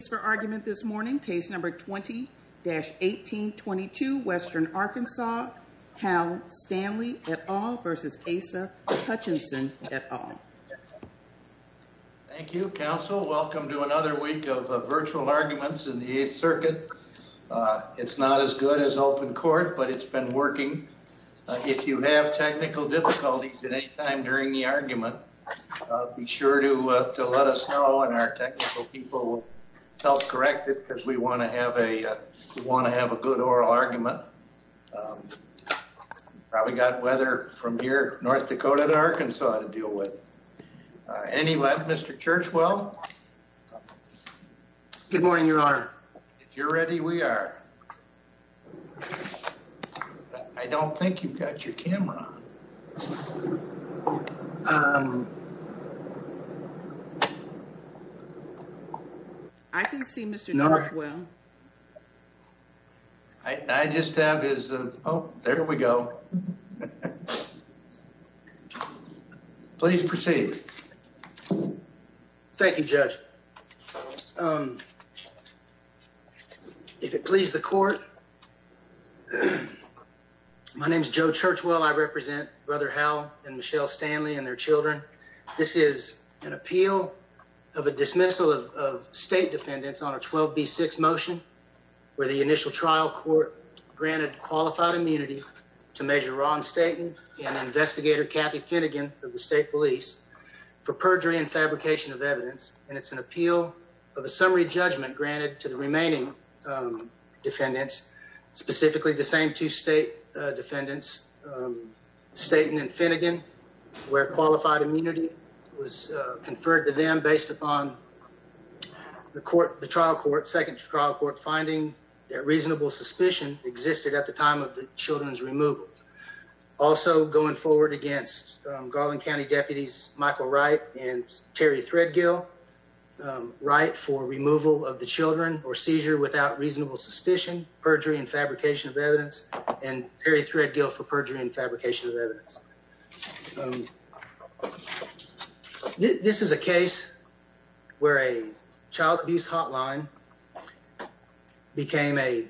Thank you, counsel. Welcome to another week of virtual arguments in the Eighth Circuit. It's not as good as open court, but it's been working. If you have technical difficulties at any time during the argument, be sure to let us know, and our technical people will help correct it, because we want to have a good oral argument. Probably got weather from here, North Dakota to Arkansas to deal with. Anyway, Mr. Churchwell? Good morning, your honor. If you're ready, we are. I don't think you've got your camera on. I can see Mr. Northwell. I just have is, oh, there we go. Please proceed. Thank you, Judge. If it please the court, my name is Joe Churchwell. I represent Brother Howe and Michelle Stanley and their children. This is an appeal of a dismissal of state defendants on a 12B6 motion, where the initial trial court granted qualified immunity to Major Ron Staton and Investigator Kathy Finnegan of the state police for perjury and fabrication of evidence. And it's an appeal of a summary judgment granted to the remaining defendants, specifically the same two state defendants, Staton and Finnegan, where qualified immunity was conferred to them based upon the trial court, second trial court, finding that reasonable suspicion existed at the time of the children's removal. Also going forward against Garland County deputies Michael Wright and Terry Threadgill, Wright for removal of the children or seizure without reasonable suspicion, perjury and fabrication of evidence, and Terry Threadgill for perjury and fabrication of evidence. This is a case where a child abuse hotline became a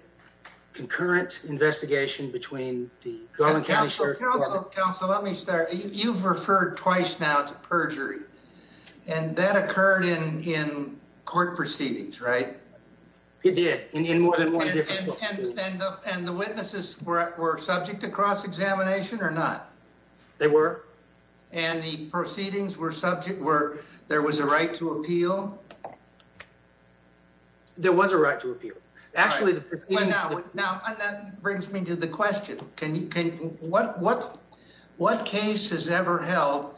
concurrent investigation between the Garland County Sheriff's Department. Counsel, let me start. You've referred twice now to perjury, and that occurred in court proceedings, right? It did, in more than one different court. And the witnesses were subject to cross-examination or not? They were. And the proceedings were subject where there was a right to appeal? There was a right to appeal. Actually, now that brings me to the question. Can you, what case has ever held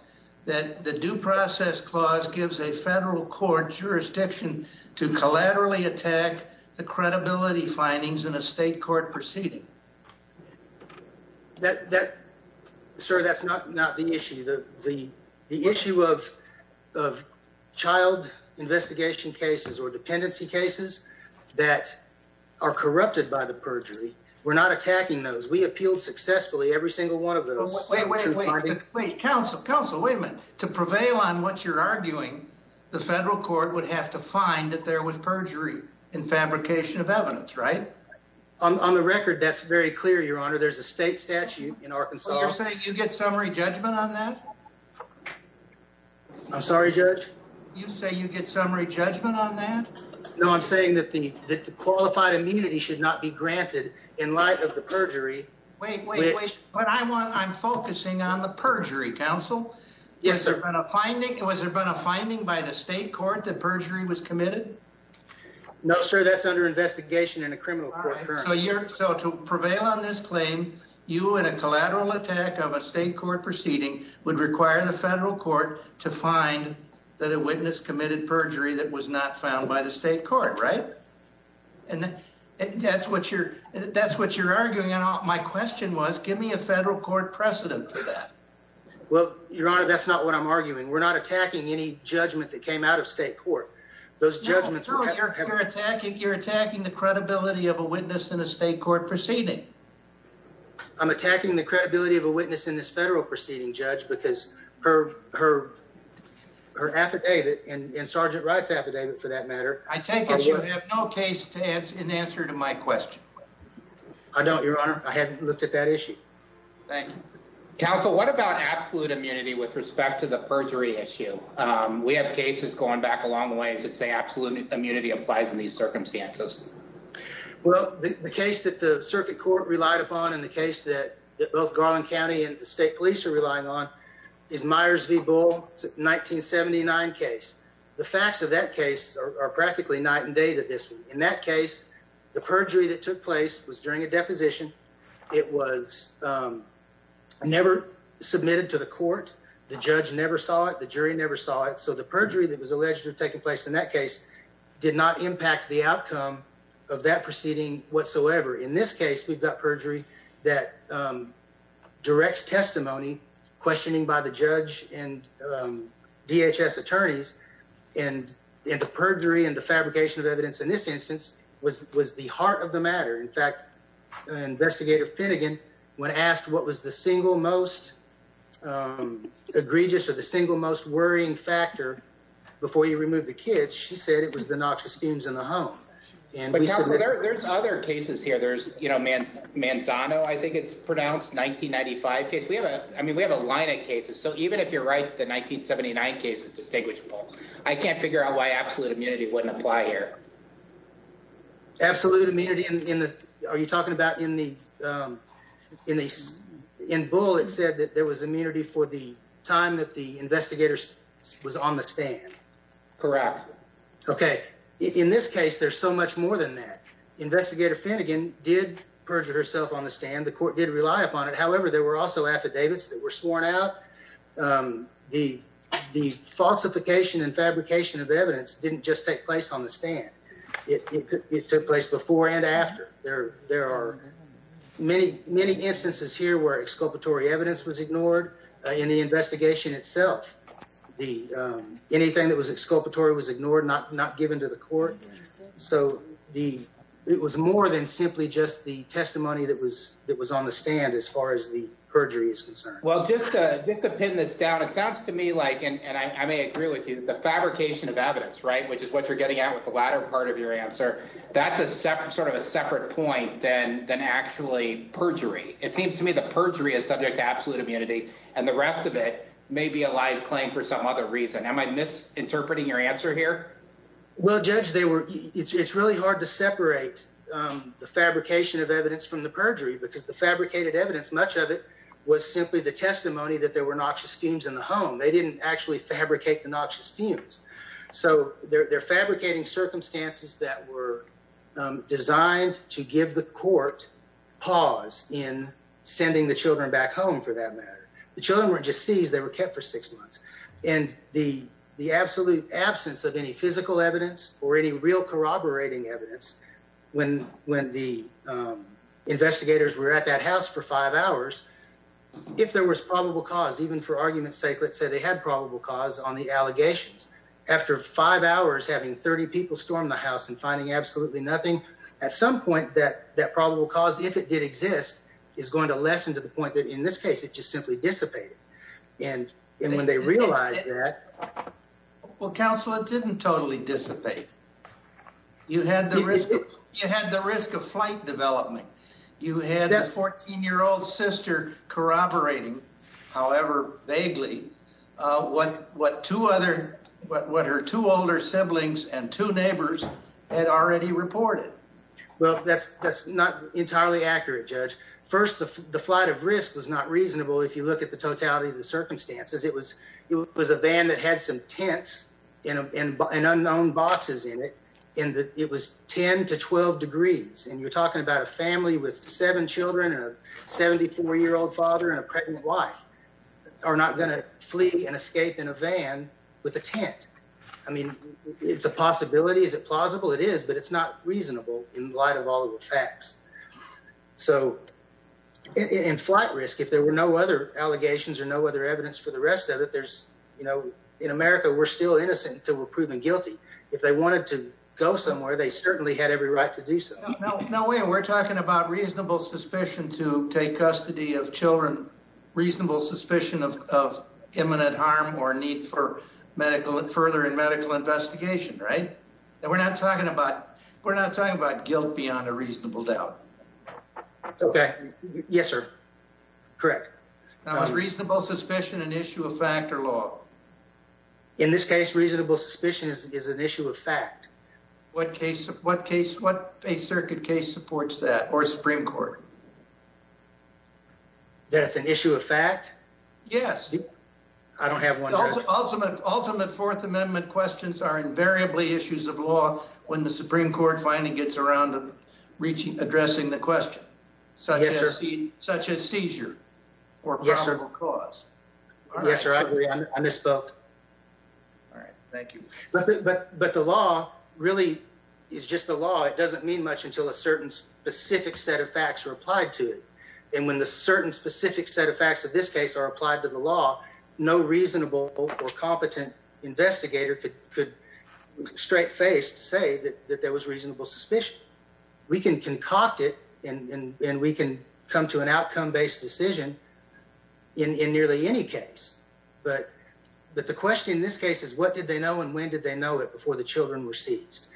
that the due process clause gives a federal court jurisdiction to collaterally attack the credibility findings in a state court proceeding? That, sir, that's not the issue. The issue of child investigation cases or dependency cases that are corrupted by the perjury, we're not attacking those. We appealed successfully every single one of those. Wait, wait, wait. Counsel, wait a minute. To prevail on what you're arguing, the federal court would have to find that there was perjury in fabrication of evidence, right? On the record, that's very clear, Your Honor. There's a state statute in Arkansas. So you're saying you get summary judgment on that? I'm sorry, Judge? You say you get summary judgment on that? No, I'm saying that the qualified immunity should not be granted in light of the perjury. Wait, wait, wait. What I want, I'm focusing on the perjury, Counsel. Yes, sir. Was there been a finding by the state court that perjury was committed? No, sir. That's under investigation in a criminal court. So to prevail on this claim, you and a collateral attack of a state court proceeding would require the federal court to find that a witness committed perjury that was not found by the state court, right? And that's what you're, that's what you're arguing. And my question was, give me a federal court precedent for that. Well, Your Honor, that's not what I'm arguing. We're not attacking any judgment that came out of state court. Those judgments were, you're attacking, you're attacking the credibility of a witness in this federal proceeding, Judge, because her, her, her affidavit and Sergeant Wright's affidavit for that matter, I take it you have no case to answer in answer to my question. I don't, Your Honor. I haven't looked at that issue. Thank you. Counsel, what about absolute immunity with respect to the perjury issue? Um, we have cases going back along the ways that say absolute immunity applies in these circumstances. Well, the case that the circuit court relied upon in the case that both Garland County and the state police are relying on is Myers v Bull 1979 case. The facts of that case are practically night and day that this, in that case, the perjury that took place was during a deposition. It was, um, never submitted to the court. The judge never saw it. The jury never saw it. So the perjury that was alleged to have taken place in that case did not impact the whatever. In this case, we've got perjury that, um, direct testimony questioning by the judge and, um, DHS attorneys and the perjury and the fabrication of evidence in this instance was was the heart of the matter. In fact, investigator Finnegan, when asked what was the single most, um, egregious or the single most worrying factor before you remove the kids, she said it was the noxious fumes in the home. And there's other cases here. There's, you know, man's Manzano. I think it's pronounced 1995 case. We have a I mean, we have a line of cases. So even if you're right, the 1979 case is distinguishable. I can't figure out why absolute immunity wouldn't apply here. Absolute immunity in the Are you talking about in the, um, in the in Bull, it said that there was immunity for the time that the investigators was on the stand. Correct. Okay. In this case, there's so much more than that. Investigator Finnegan did perjure herself on the stand. The court did rely upon it. However, there were also affidavits that were sworn out. Um, the the falsification and fabrication of evidence didn't just take place on the stand. It took place before and after there. There are many, many instances here where exculpatory evidence was ignored in the investigation itself. The anything that was exculpatory was ignored, not not given to the court. So the it was more than simply just the testimony that was that was on the stand as far as the perjury is concerned. Well, just just to pin this down, it sounds to me like and I may agree with you, the fabrication of evidence, right, which is what you're getting out with the latter part of your answer. That's a separate sort of a separate point than than actually perjury. It seems to me the perjury is subject to absolute immunity and the rest of it may be a live claim for some other reason. Am I misinterpreting your answer here? Well, Judge, they were. It's really hard to separate the fabrication of evidence from the perjury because the fabricated evidence, much of it was simply the testimony that there were noxious schemes in the home. They didn't actually fabricate the noxious fumes. So they're fabricating circumstances that were designed to give the court pause in sending the Children back home. For that matter, the children were just seized. They were kept for six months and the the absolute absence of any physical evidence or any real corroborating evidence when when the investigators were at that house for five hours, if there was probable cause, even for argument's sake, let's say they had probable cause on the allegations after five hours, having 30 people stormed the house and finding absolutely nothing at some point that that probable cause, if it did exist, is going to lessen to the point that in this case it just simply dissipated. And when they realized that. Well, Counselor, it didn't totally dissipate. You had the risk. You had the risk of flight development. You had a 14 year old sister corroborating, however vaguely, what what two other what her two older siblings and two neighbors had already reported. Well, that's that's not entirely accurate, Judge. First, the flight of risk was not reasonable. If you look at the totality of the circumstances, it was it was a van that had some tents in an unknown boxes in it and it was 10 to 12 degrees. And you're talking about a family with seven children and a 74 year old father and a pregnant wife are not going to flee and escape in a it's not reasonable in light of all the facts. So in flight risk, if there were no other allegations or no other evidence for the rest of it, there's, you know, in America, we're still innocent until we're proven guilty. If they wanted to go somewhere, they certainly had every right to do so. No, we're talking about reasonable suspicion to take custody of children, reasonable suspicion of imminent harm or need for medical and further and medical investigation, right? And we're not talking about we're not talking about guilt beyond a reasonable doubt. Okay. Yes, sir. Correct. Now, reasonable suspicion, an issue of fact or law. In this case, reasonable suspicion is an issue of fact. What case what case what a circuit case supports that or Supreme Court? That's an issue of fact. Yes. I don't have one ultimate ultimate Fourth Amendment questions are variably issues of law when the Supreme Court finally gets around to reaching addressing the question. So yes, sir. Such a seizure or yes, sir. Yes, sir. I misspoke. All right. Thank you. But the law really is just the law. It doesn't mean much until a certain specific set of facts are applied to it. And when the certain specific set of facts of this case are applied to the law, no reasonable or competent investigator could could straight face to say that that there was reasonable suspicion. We can concoct it and we can come to an outcome based decision in nearly any case. But but the question in this case is, what did they know and when did they know it before the children were seized?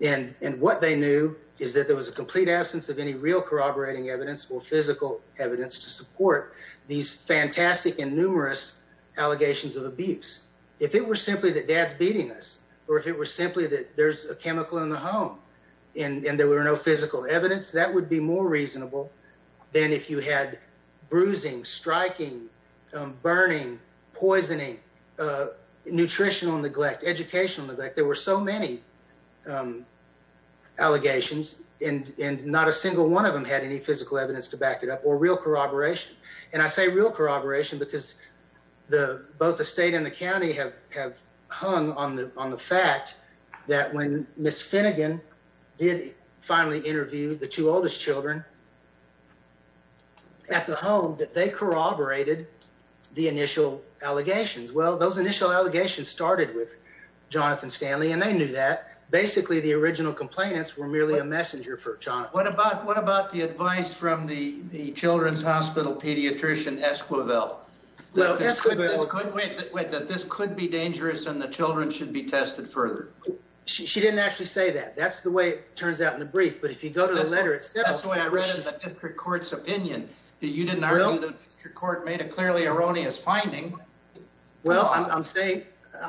And what they knew is that there was a complete absence of any real corroborating evidence or physical evidence to support these fantastic and numerous allegations of abuse. If it were simply that dad's beating us, or if it were simply that there's a chemical in the home, and there were no physical evidence that would be more reasonable than if you had bruising, striking, burning, poisoning, nutritional neglect, educational neglect, there were so many allegations, and not a single one of them had any physical evidence to back it up or real corroboration. And I say real corroboration because the both the state and the county have have hung on the on the fact that when Miss Finnegan did finally interview the two oldest children at the home that they corroborated the initial allegations. Well, those initial allegations started with Jonathan Stanley, and they knew that the advice from the the Children's Hospital pediatrician, Esquivel, that this could be dangerous, and the children should be tested further. She didn't actually say that. That's the way it turns out in the brief. But if you go to the letter, it's that's the way I read the district court's opinion. You didn't know that your court made a clearly erroneous finding. Well, I'm saying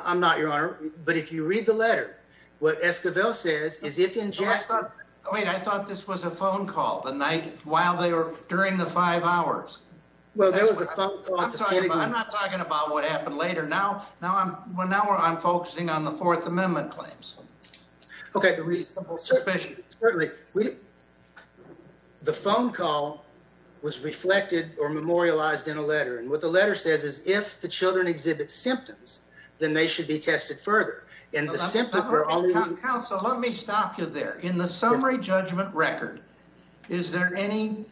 I'm not your honor. But if you read the letter, what Esquivel says is if ingested. Wait, I thought this was a phone call the night while they were during the five hours. Well, there was a phone call. I'm not talking about what happened later. Now. Now I'm well, now I'm focusing on the Fourth Amendment claims. Okay. The phone call was reflected or memorialized in a letter. And what the letter says is if the Children exhibit symptoms, then they should be tested further in the symptom. So let me stop you there in the summary judgment record. Is there any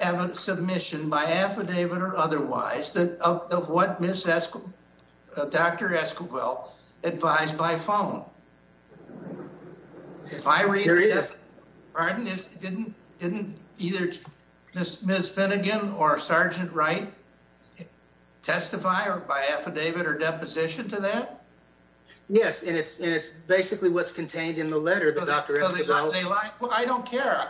evidence submission by affidavit or otherwise that of what Miss Esquivel, Dr. Esquivel advised by phone? If I read this, didn't either Miss Finnegan or Sergeant Wright testify or by yes, and it's and it's basically what's contained in the letter that I don't care.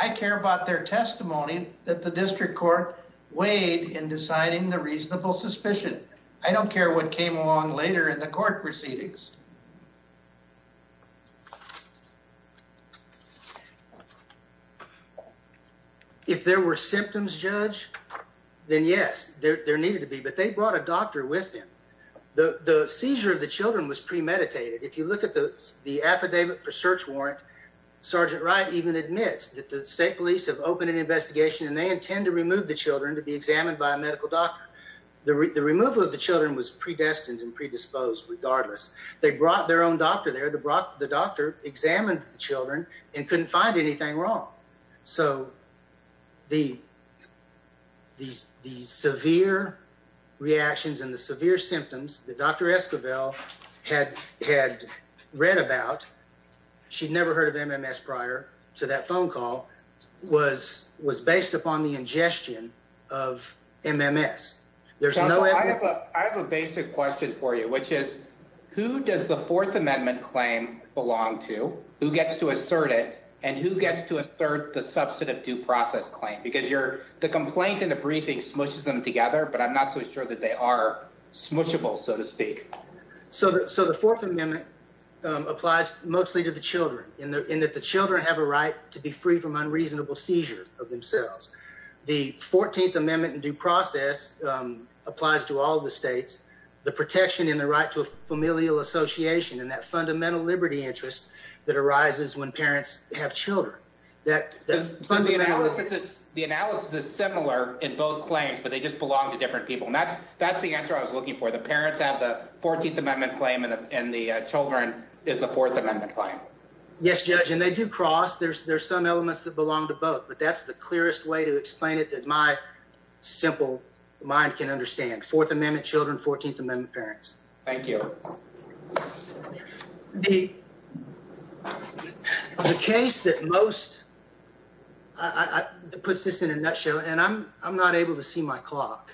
I care about their testimony that the district court weighed in deciding the reasonable suspicion. I don't care what came along later in the court proceedings. If there were symptoms, Judge, then yes, there needed to be. But they brought a doctor with him. The seizure of the Children was premeditated. If you look at the the affidavit for search warrant, Sergeant Wright even admits that the state police have opened an investigation and they intend to remove the Children to be examined by a medical doctor. The removal of the Children was predestined and predisposed. Regardless, they brought their own doctor there to Brock. The doctor examined the Children and couldn't find anything wrong. So the these severe reactions and the severe symptoms the doctor Esquivel had had read about, she'd never heard of MMS prior to that phone call was was based upon the ingestion of MMS. There's no I have a basic question for you, which is who does the Fourth Amendment claim belong to? Who gets to assert it? And who gets to assert the substantive due process claim? Because you're the complaint in the briefing smushes them together, but I'm not so sure that they are smushable, so to speak. So the Fourth Amendment applies mostly to the Children in that the Children have a right to be free from unreasonable seizures of themselves. The 14th Amendment in due process applies to all the states, the protection in the right to a familial association and that fundamental liberty interest that arises when parents have Children that fund the analysis. The that's the answer I was looking for. The parents have the 14th Amendment claim, and the Children is the Fourth Amendment claim. Yes, judge, and they do cross. There's there's some elements that belong to both, but that's the clearest way to explain it that my simple mind can understand. Fourth Amendment Children, 14th Amendment parents. Thank you. The case that most puts this in a nutshell, and I'm I'm not able to see my clock.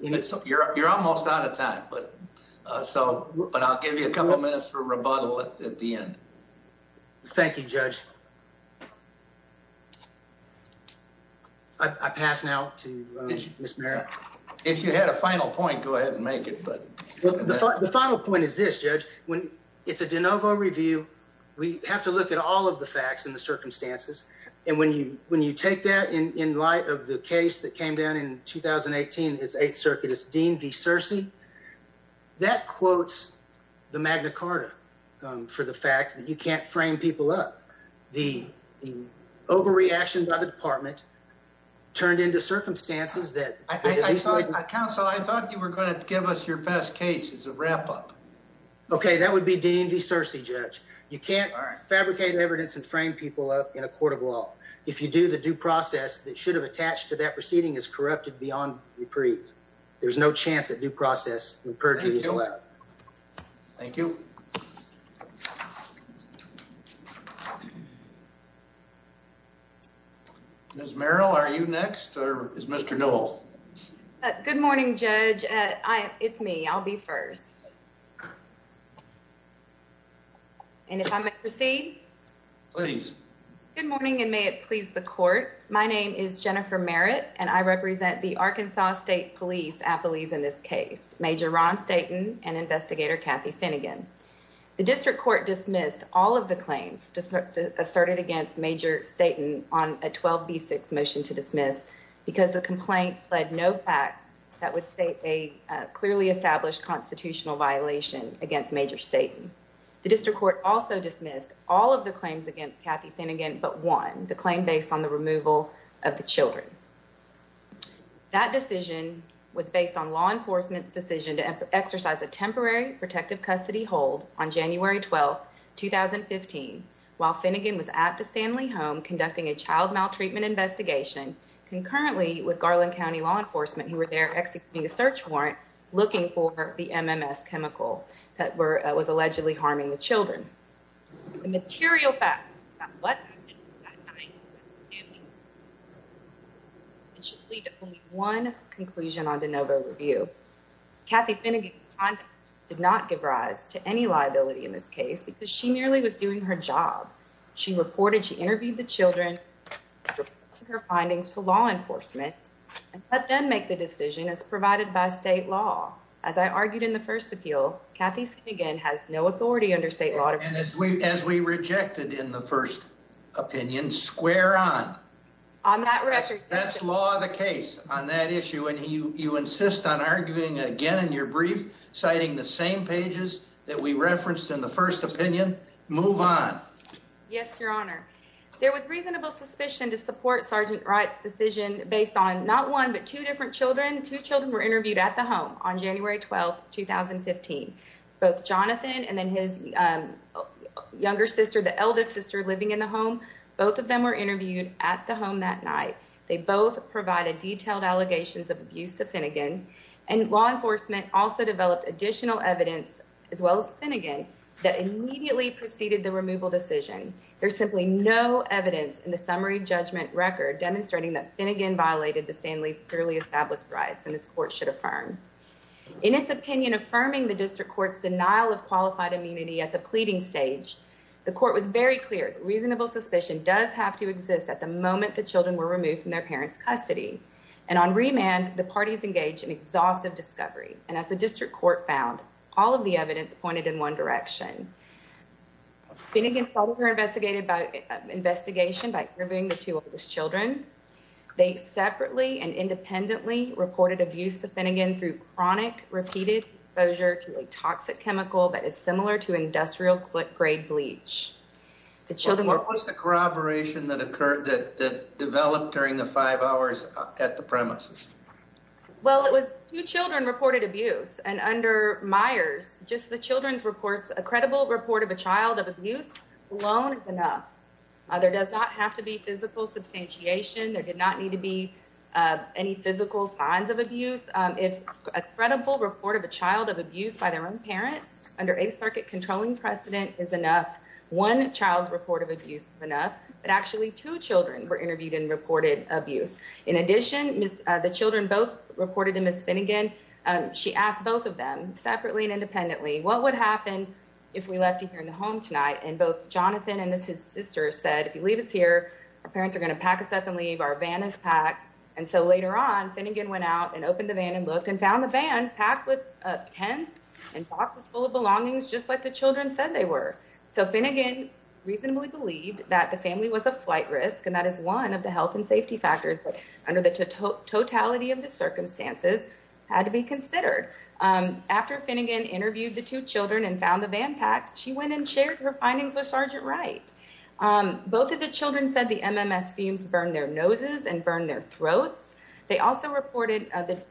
You're almost out of time, but so but I'll give you a couple minutes for rebuttal at the end. Thank you, Judge. I pass now to Miss Mary. If you had a final point, go ahead and make it. But the final point is this judge when it's a de novo review, we have to look at all of the facts and the circumstances. And when you when you take that in light of the case that came down in 2018, his Eighth Circuit is deemed the Searcy that quotes the Magna Carta for the fact that you can't frame people up. The overreaction by the department turned into circumstances that I counsel. I thought you were going to give us your best cases of wrap up. Okay, that would be deemed the Searcy judge. You can't fabricate evidence and frame people up in a court of law. If you do, the due process that should have attached to that proceeding is corrupted beyond reprieve. There's no chance that due process purges. Thank you. Ms. Merrill, are you next? Or is Mr. Dole? Good morning, Judge. It's me. I'll be first. And if I may proceed, please. Good morning, and may it please the court. My name is Jennifer Merritt, and I represent the Arkansas State Police affilies in this case. Major Ron Staton and investigator Kathy Finnegan. The district court dismissed all of the claims asserted against Major Staton on a 12B6 motion to dismiss because the complaint fled no fact that would state a clearly established constitutional violation against Major Staton. The district court also dismissed all of the claims against Kathy Finnegan but one, the claim based on the removal of the children. That decision was on January 12th, 2015, while Finnegan was at the Stanley home conducting a child maltreatment investigation concurrently with Garland County law enforcement who were there executing a search warrant looking for the MMS chemical that was allegedly harming the children. The material facts about what happened that night at the Stanley home should lead to only one conclusion on DeNovo review. Kathy Finnegan did not give rise to any liability in this case because she merely was doing her job. She reported, she interviewed the children, her findings to law enforcement, and let them make the decision as provided by state law. As I argued in the first appeal, Kathy Finnegan has no authority under state law. And as we rejected in the first opinion, square on. On that record. That's law of the case on that issue. And you, you insist on arguing again in your brief, citing the same pages that we referenced in the first opinion. Move on. Yes, your honor. There was reasonable suspicion to support Sergeant Wright's decision based on not one, but two different children. Two children were interviewed at the home on January 12th, 2015, both Jonathan and then his younger sister, the eldest sister living in the home. Both of them were interviewed at the home that night. They both provided detailed allegations of abuse to Finnegan and law enforcement also developed additional evidence as well as Finnegan that immediately preceded the removal decision. There's simply no evidence in the summary judgment record demonstrating that Finnegan violated the Stanley's clearly established rights. And this court should affirm in its opinion, affirming the district court's denial of qualified immunity at the pleading stage. The court was very clear. Reasonable suspicion does have to exist at the moment the children were removed from their parents' custody. And on remand, the parties engaged in exhaustive discovery. And as the district court found, all of the evidence pointed in one direction. Finnegan's father investigated by investigation by interviewing the two of his children. They separately and independently reported abuse to Finnegan through chronic repeated exposure to a toxic chemical that is similar to industrial grade bleach. The children were corroboration that occurred that developed during the five hours at the premises. Well, it was two children reported abuse. And under Myers, just the children's reports, a credible report of a child of abuse alone is enough. There does not have to be physical substantiation. There did not need to be any physical signs of abuse. If a credible report of a child of abuse by their own parents under a circuit controlling precedent is enough. One child's report of abuse is enough. But actually, two children were interviewed and reported abuse. In addition, the children both reported to Ms. Finnegan. She asked both of them separately and independently, what would happen if we left you here in the home tonight? And both Jonathan and his sister said, if you leave us here, our parents are going to pack us up and leave. Our van is packed. And so later on, Finnegan went out and opened the van and looked and found the van packed with tents and boxes full of belongings, just like the children said they were. So Finnegan reasonably believed that the family was a flight risk. And that is one of the health and safety factors that under the totality of the circumstances had to be considered. After Finnegan interviewed the two children and found the van packed, she went and shared her findings with Sergeant Wright. Both of the children said the MMS fumes burned their noses and burned their throats. They also reported that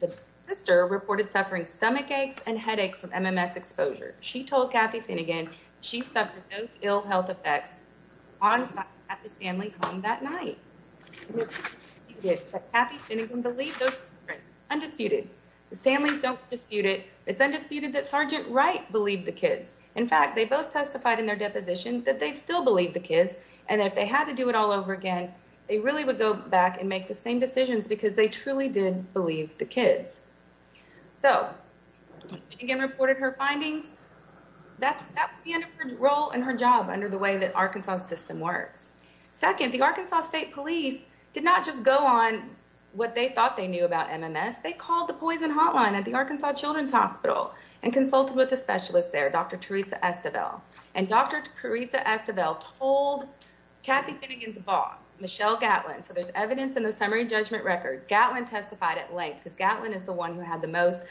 the sister reported suffering stomach aches and headaches from MMS exposure. She told Kathy Finnegan she suffered those ill health effects at the Stanley home that night. Kathy Finnegan believed those children, undisputed. The Stanleys don't dispute it. It's undisputed that Sergeant Wright believed the kids. In fact, they both testified in their deposition that they still believe the kids. And if they had to do it all over again, they really would go back and make the same decisions because they truly did believe the kids. So Finnegan reported her findings. That's the end of her role and her job under the way that Arkansas system works. Second, the Arkansas State Police did not just go on what they thought they knew about MMS. They called the Poison Hotline at the Arkansas Children's Hospital and consulted with a specialist there, Dr. Teresa Estevelle. And Dr. Finnegan's boss, Michelle Gatlin. So there's evidence in the summary judgment record. Gatlin testified at length because Gatlin is the one who had the most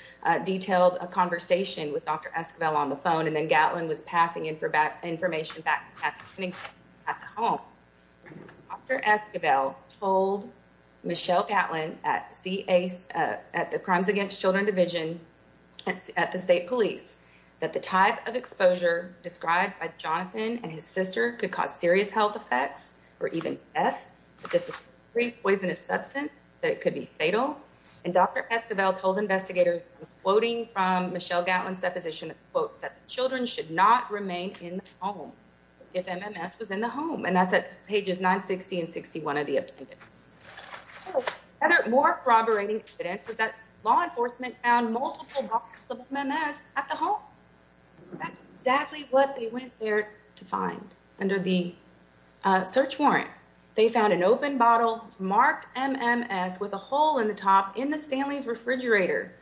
detailed conversation with Dr. Estevelle on the phone. And then Gatlin was passing in for information back at the home. Dr. Estevelle told Michelle Gatlin at the Crimes Against Children Division at the State Police Department that if MMS was in the home, that it could be fatal. And Dr. Estevelle told investigators, quoting from Michelle Gatlin's deposition, quote, that the children should not remain in the home if MMS was in the home. And that's at pages 960 and 61 of the appendix. Another more corroborating evidence was that law enforcement found multiple boxes of MMS at the Children's Hospital. They found an open bottle marked MMS with a hole in the top in the Stanley's refrigerator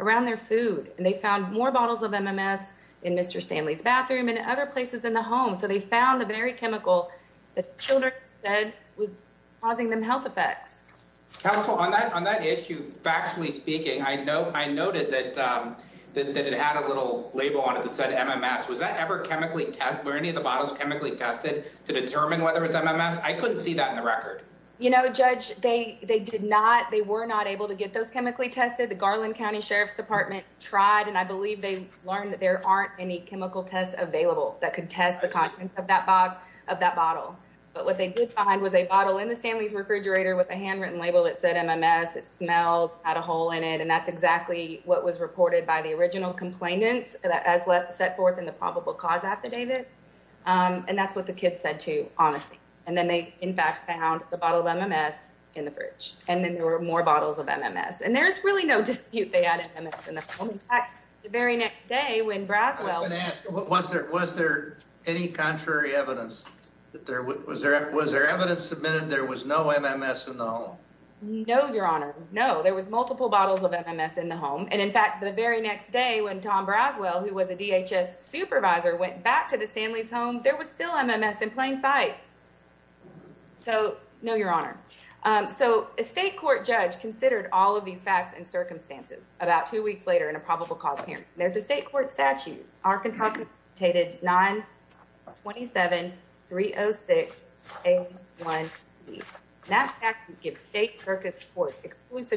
around their food. And they found more bottles of MMS in Mr. Stanley's bathroom and other places in the home. So they found the very chemical that children said was causing them health effects. Counsel, on that issue, factually speaking, I noted that it had a little label on it that said MMS. Was that ever chemically tested to determine whether it's MMS? I couldn't see that in the record. You know, Judge, they they did not. They were not able to get those chemically tested. The Garland County Sheriff's Department tried. And I believe they learned that there aren't any chemical tests available that could test the content of that box of that bottle. But what they did find was a bottle in the Stanley's refrigerator with a handwritten label that said MMS. It smelled, had a hole in it. And that's exactly what was reported by the original complainants that has set forth in the probable cause affidavit. And that's what the kids said, too, honestly. And then they, in fact, found the bottle of MMS in the fridge. And then there were more bottles of MMS. And there's really no dispute they had MMS in the home. In fact, the very next day when Braswell... I was going to ask, was there any contrary evidence? Was there evidence submitted there was no MMS in the home? No, Your Honor. No, there was multiple bottles of MMS in the home. And in fact, the very next day, when Tom Braswell, who was a DHS supervisor, went back to the Stanley's home, there was still MMS in plain sight. So no, Your Honor. So a state court judge considered all of these facts and circumstances about two weeks later in a probable cause hearing. There's a state court statute, Arkansas Constituted 927-306-A1C. That statute gives State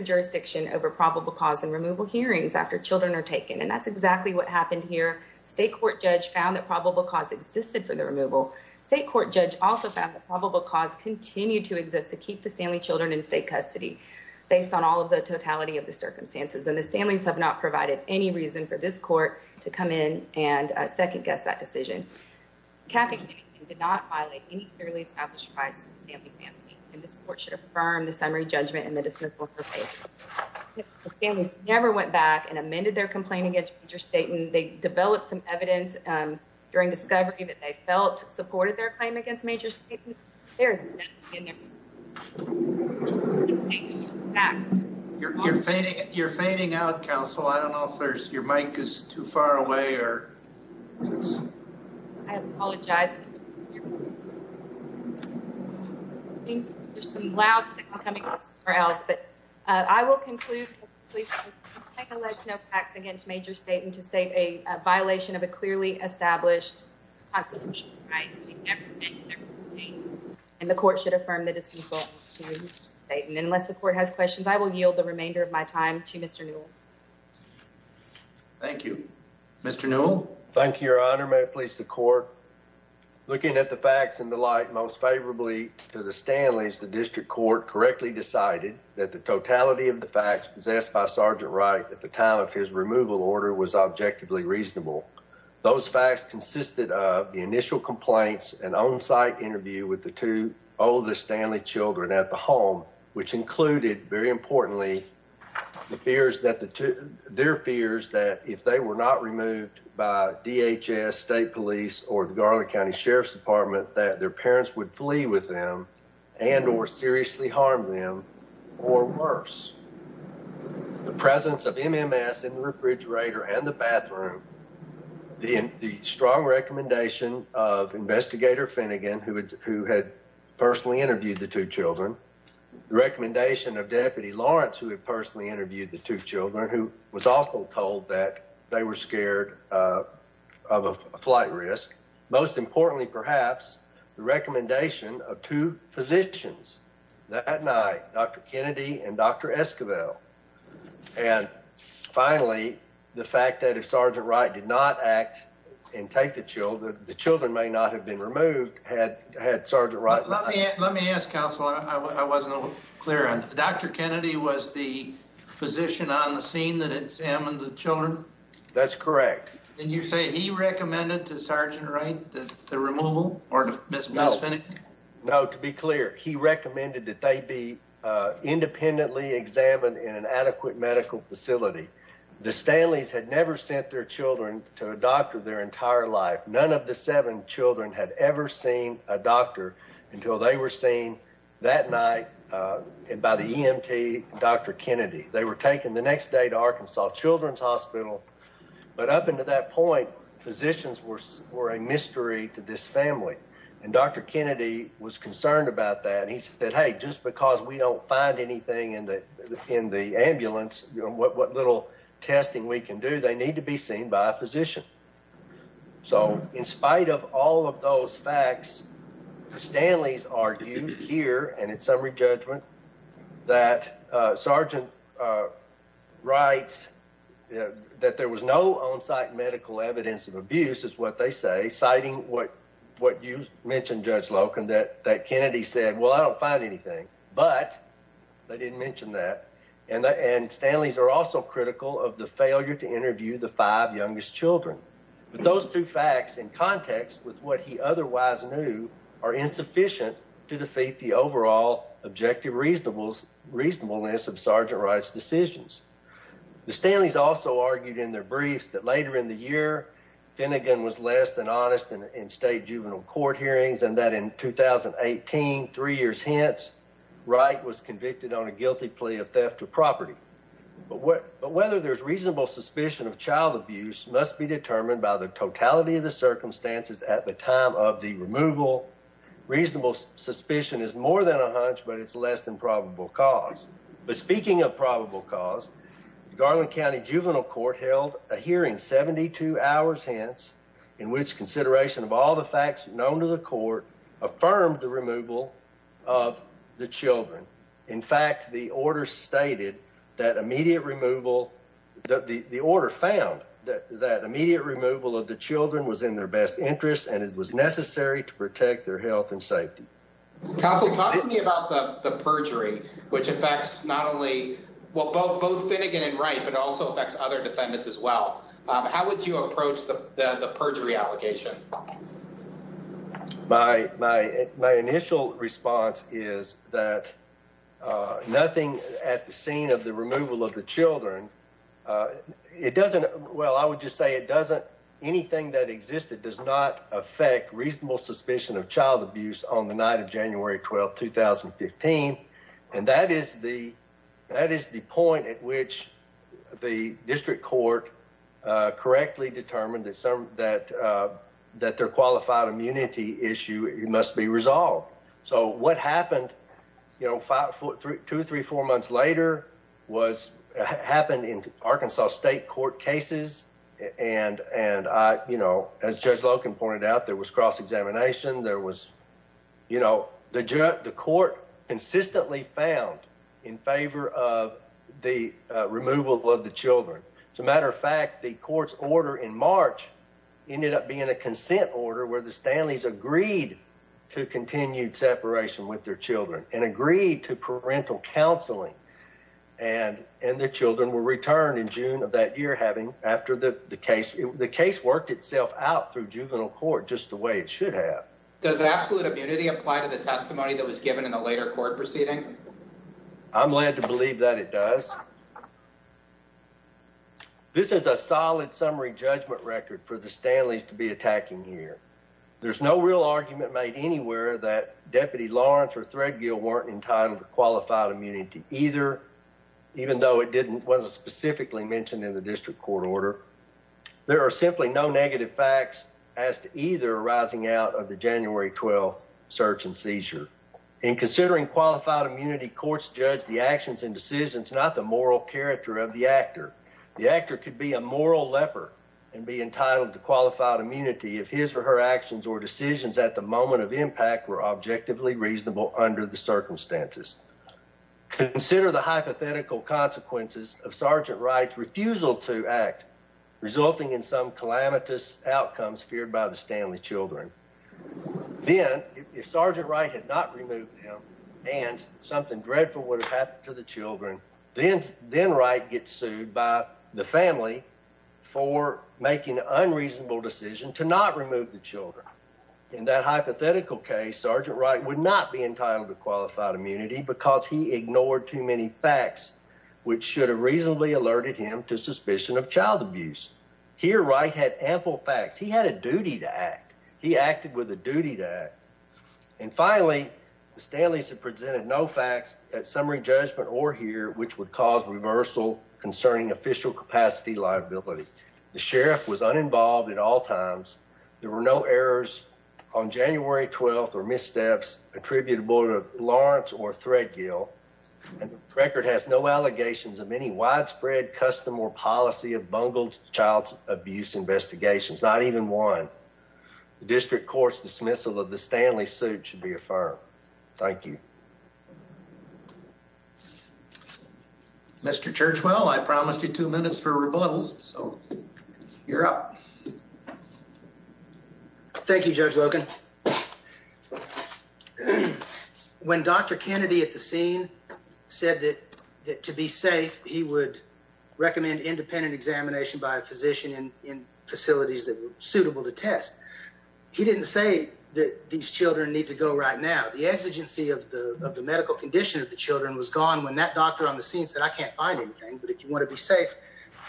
Jurisdiction over probable cause and removal hearings after children are taken. And that's exactly what happened here. State court judge found that probable cause existed for the removal. State court judge also found that probable cause continued to exist to keep the Stanley children in state custody based on all of the totality of the circumstances. And the Stanleys have not provided any reason for this court to come in and second-guess that decision. Kathy Kennedy did not violate any clearly established rights of the Stanley family. And this court should affirm the summary judgment in the dismissal of her case. The Stanley's never went back and amended their complaint against Major Staten. They developed some evidence during discovery that they felt supported their claim against Major Staten. You're fainting. You're fainting out, counsel. I don't know if your mic is too far away or... I apologize. There's some loud signal coming from somewhere else, but I will conclude that the Stanley family has no facts against Major Staten to state a violation of a And the court should affirm the dismissal of Major Staten. Unless the court has questions, I will yield the remainder of my time to Mr. Newell. Thank you. Mr. Newell. Thank you, Your Honor. May it please the court. Looking at the facts in the light most favorably to the Stanleys, the district court correctly decided that the totality of the facts possessed by Sergeant Wright at the time of his removal order was objectively reasonable. Those facts consisted of the initial complaints and on-site interview with the two oldest Stanley children at the home, which included, very importantly, their fears that if they were not removed by DHS, state police, or the Garland County Sheriff's Department, that their parents would The strong recommendation of Investigator Finnegan, who had personally interviewed the two children. The recommendation of Deputy Lawrence, who had personally interviewed the two children, who was also told that they were scared of a flight risk. Most importantly, perhaps, the recommendation of two that Sergeant Wright did not act and take the children. The children may not have been removed had Sergeant Wright not acted. Let me ask counsel, I wasn't clear on. Dr. Kennedy was the physician on the scene that examined the children? That's correct. Did you say he recommended to Sergeant Wright the removal or to Ms. Finnegan? No, to be clear, he to a doctor their entire life. None of the seven children had ever seen a doctor until they were seen that night by the EMT, Dr. Kennedy. They were taken the next day to Arkansas Children's Hospital. But up until that point, physicians were a mystery to this family. And Dr. Kennedy was concerned about that. He said, hey, just because we don't find anything in the ambulance, what little testing we can do, they need to be seen by a physician. So in spite of all of those facts, Stanley's argued here and in summary judgment that Sergeant Wright, that there was no on-site medical evidence of abuse is what they say, citing what you mentioned, Judge Loken, that Kennedy said, well, I don't find anything, but they didn't mention that. And Stanley's are also critical of the failure to interview the five youngest children. But those two facts in context with what he otherwise knew are insufficient to defeat the overall objective reasonableness of Sergeant Wright's decisions. The Stanleys also argued in their briefs that later in the year, Finnegan was less than honest in state juvenile court hearings and that in 2018, three years hence, Wright was convicted on a guilty plea of theft of property. But whether there's reasonable suspicion of child abuse must be determined by the totality of the circumstances at the time of the removal. Reasonable suspicion is more than a hunch, but it's less than probable cause. But speaking of probable cause, Garland County Juvenile Court held a hearing 72 hours hence, in which consideration of all the facts known to the court affirmed the removal of the children. In fact, the order stated that immediate removal, the order found that immediate removal of the children was in their best interest and it was necessary to protect their health and safety. Counsel, talk to me about the perjury, which affects not only both Finnegan and Wright, but also affects other defendants as well. How would you approach the perjury allegation? My initial response is that nothing at the scene of the removal of the children, it doesn't, well, I would just say it doesn't, anything that existed does not affect reasonable suspicion of child abuse on the night of January 12, 2015. And that is the point at which the district court correctly determined that their qualified immunity issue must be resolved. So what did the district court do? Well, there was a cross-examination. There was, you know, the court consistently found in favor of the removal of the children. As a matter of fact, the court's order in March ended up being a consent order where the Stanleys agreed to continued separation with their children and agreed to parental counseling. And the children were returned in June of that year, having, after the case, the case worked itself out through juvenile court just the way it did. And I think that's what the district court should have. Does absolute immunity apply to the testimony that was given in the later court proceeding? I'm led to believe that it does. This is a solid summary judgment record for the Stanleys to be attacking here. There's no real argument made anywhere that Deputy Lawrence or Threadgill weren't entitled to qualified immunity either, even though it didn't, wasn't specifically mentioned in the district court order. There are simply no negative facts as to either arising out of the testimony that was given in the later court proceeding. Or arising out of the January 12th search and seizure. In considering qualified immunity, courts judge the actions and decisions, not the moral character of the actor. The actor could be a moral leper and be entitled to qualified immunity if his or her actions or decisions at the moment of impact were objectively reasonable under the circumstances. Consider the hypothetical consequences of Sergeant Wright's refusal to act, resulting in some calamitous outcomes feared by the Stanley children. Then, if Sergeant Wright had not removed him and something dreadful would have happened to the children, then Wright gets sued by the family for making an unreasonable decision to not remove the children. In that hypothetical case, Sergeant Wright would not be entitled to qualified immunity because he ignored too many facts, which should have reasonably alerted him to suspicion of child abuse. Here, Wright had ample facts. He had a duty to act. He acted with a duty to act. And finally, the Stanleys have presented no facts at summary judgment or here, which would cause reversal concerning official capacity liability. The sheriff was uninvolved at all times. There were no errors on January 12th or missteps attributable to Lawrence or Threadgill and the record has no allegations of any widespread custom or policy of bungled child abuse investigations, not even one. The district court's dismissal of the Stanley suit should be affirmed. Thank you, Mr. Churchwell. I promised you two minutes for rebuttals. So you're up. Thank you, Judge Logan. When Dr. Kennedy at the scene said that to be safe, he would recommend independent examination by a physician in facilities that were suitable to test. He didn't say that these children need to go right now. The exigency of the medical condition of the children was gone when that doctor on the scene said, I can't find anything, but if you want to be safe,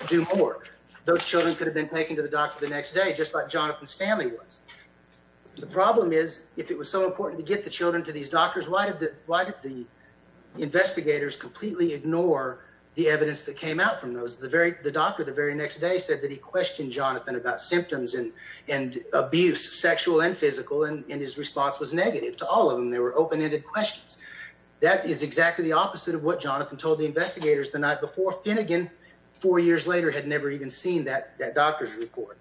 do more. Those children could have been taken to the doctor the next day, just like Jonathan Stanley was. The problem is, if it was so important to get the children to these doctors, why did the investigators completely ignore the evidence that came out from those? The doctor the very next day said that he questioned Jonathan about symptoms and abuse, sexual and physical, and his response was negative to all of them. They were open-ended questions. That is exactly the opposite of what Jonathan told the investigators the night before. Finnegan, four years later, had never even seen that doctor's report.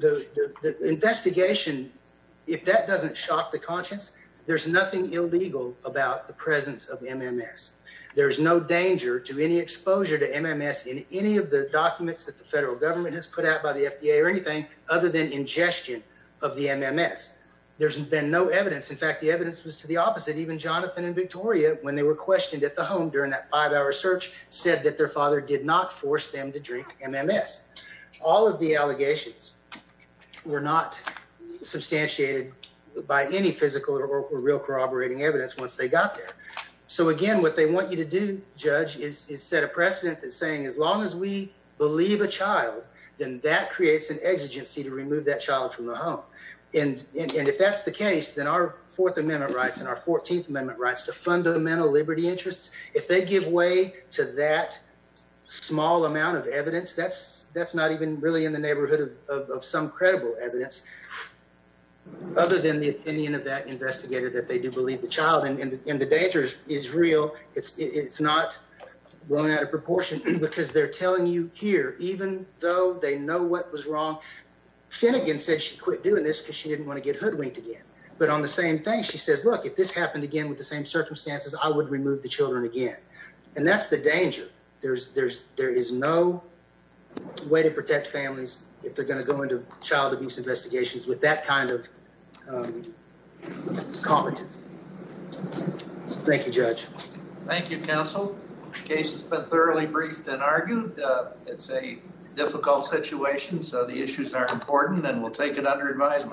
The investigation, if that doesn't shock the conscience, there's nothing illegal about the presence of MMS. There's no danger to any exposure to MMS in any of the documents that the federal government has put out by the FDA or anything other than ingestion of the MMS. There's been no evidence. In fact, the evidence was to the opposite. Even Jonathan and Victoria, when they were questioned at the home during that five-hour search, said that their father did not force them to drink MMS. All of the allegations were not substantiated by any physical or real corroborating evidence once they got there. So again, what they want you to do, Judge, is set a precedent that's saying as long as we believe a child, then that creates an exigency to remove that child from the home. And if that's the case, then our Fourth Amendment rights and our Fourteenth Amendment rights to fundamental liberty interests, if they give way to that small amount of evidence, that's not even really in the neighborhood of some credible evidence other than the opinion of that investigator that they do believe the child. And the danger is real. It's not well out of proportion because they're telling you here, even though they know what was wrong, Finnegan said she quit doing this because she didn't want to get hoodwinked again. But on the same thing, she says, look, if this happened again with the same circumstances, I would remove the children again. And that's the danger. There is no way to protect families if they're going to go into child abuse investigations with that kind of competency. Thank you, Judge. Thank you, counsel. The case has been thoroughly briefed and argued. It's a difficult situation, so the issues are important and we'll take it under advisement.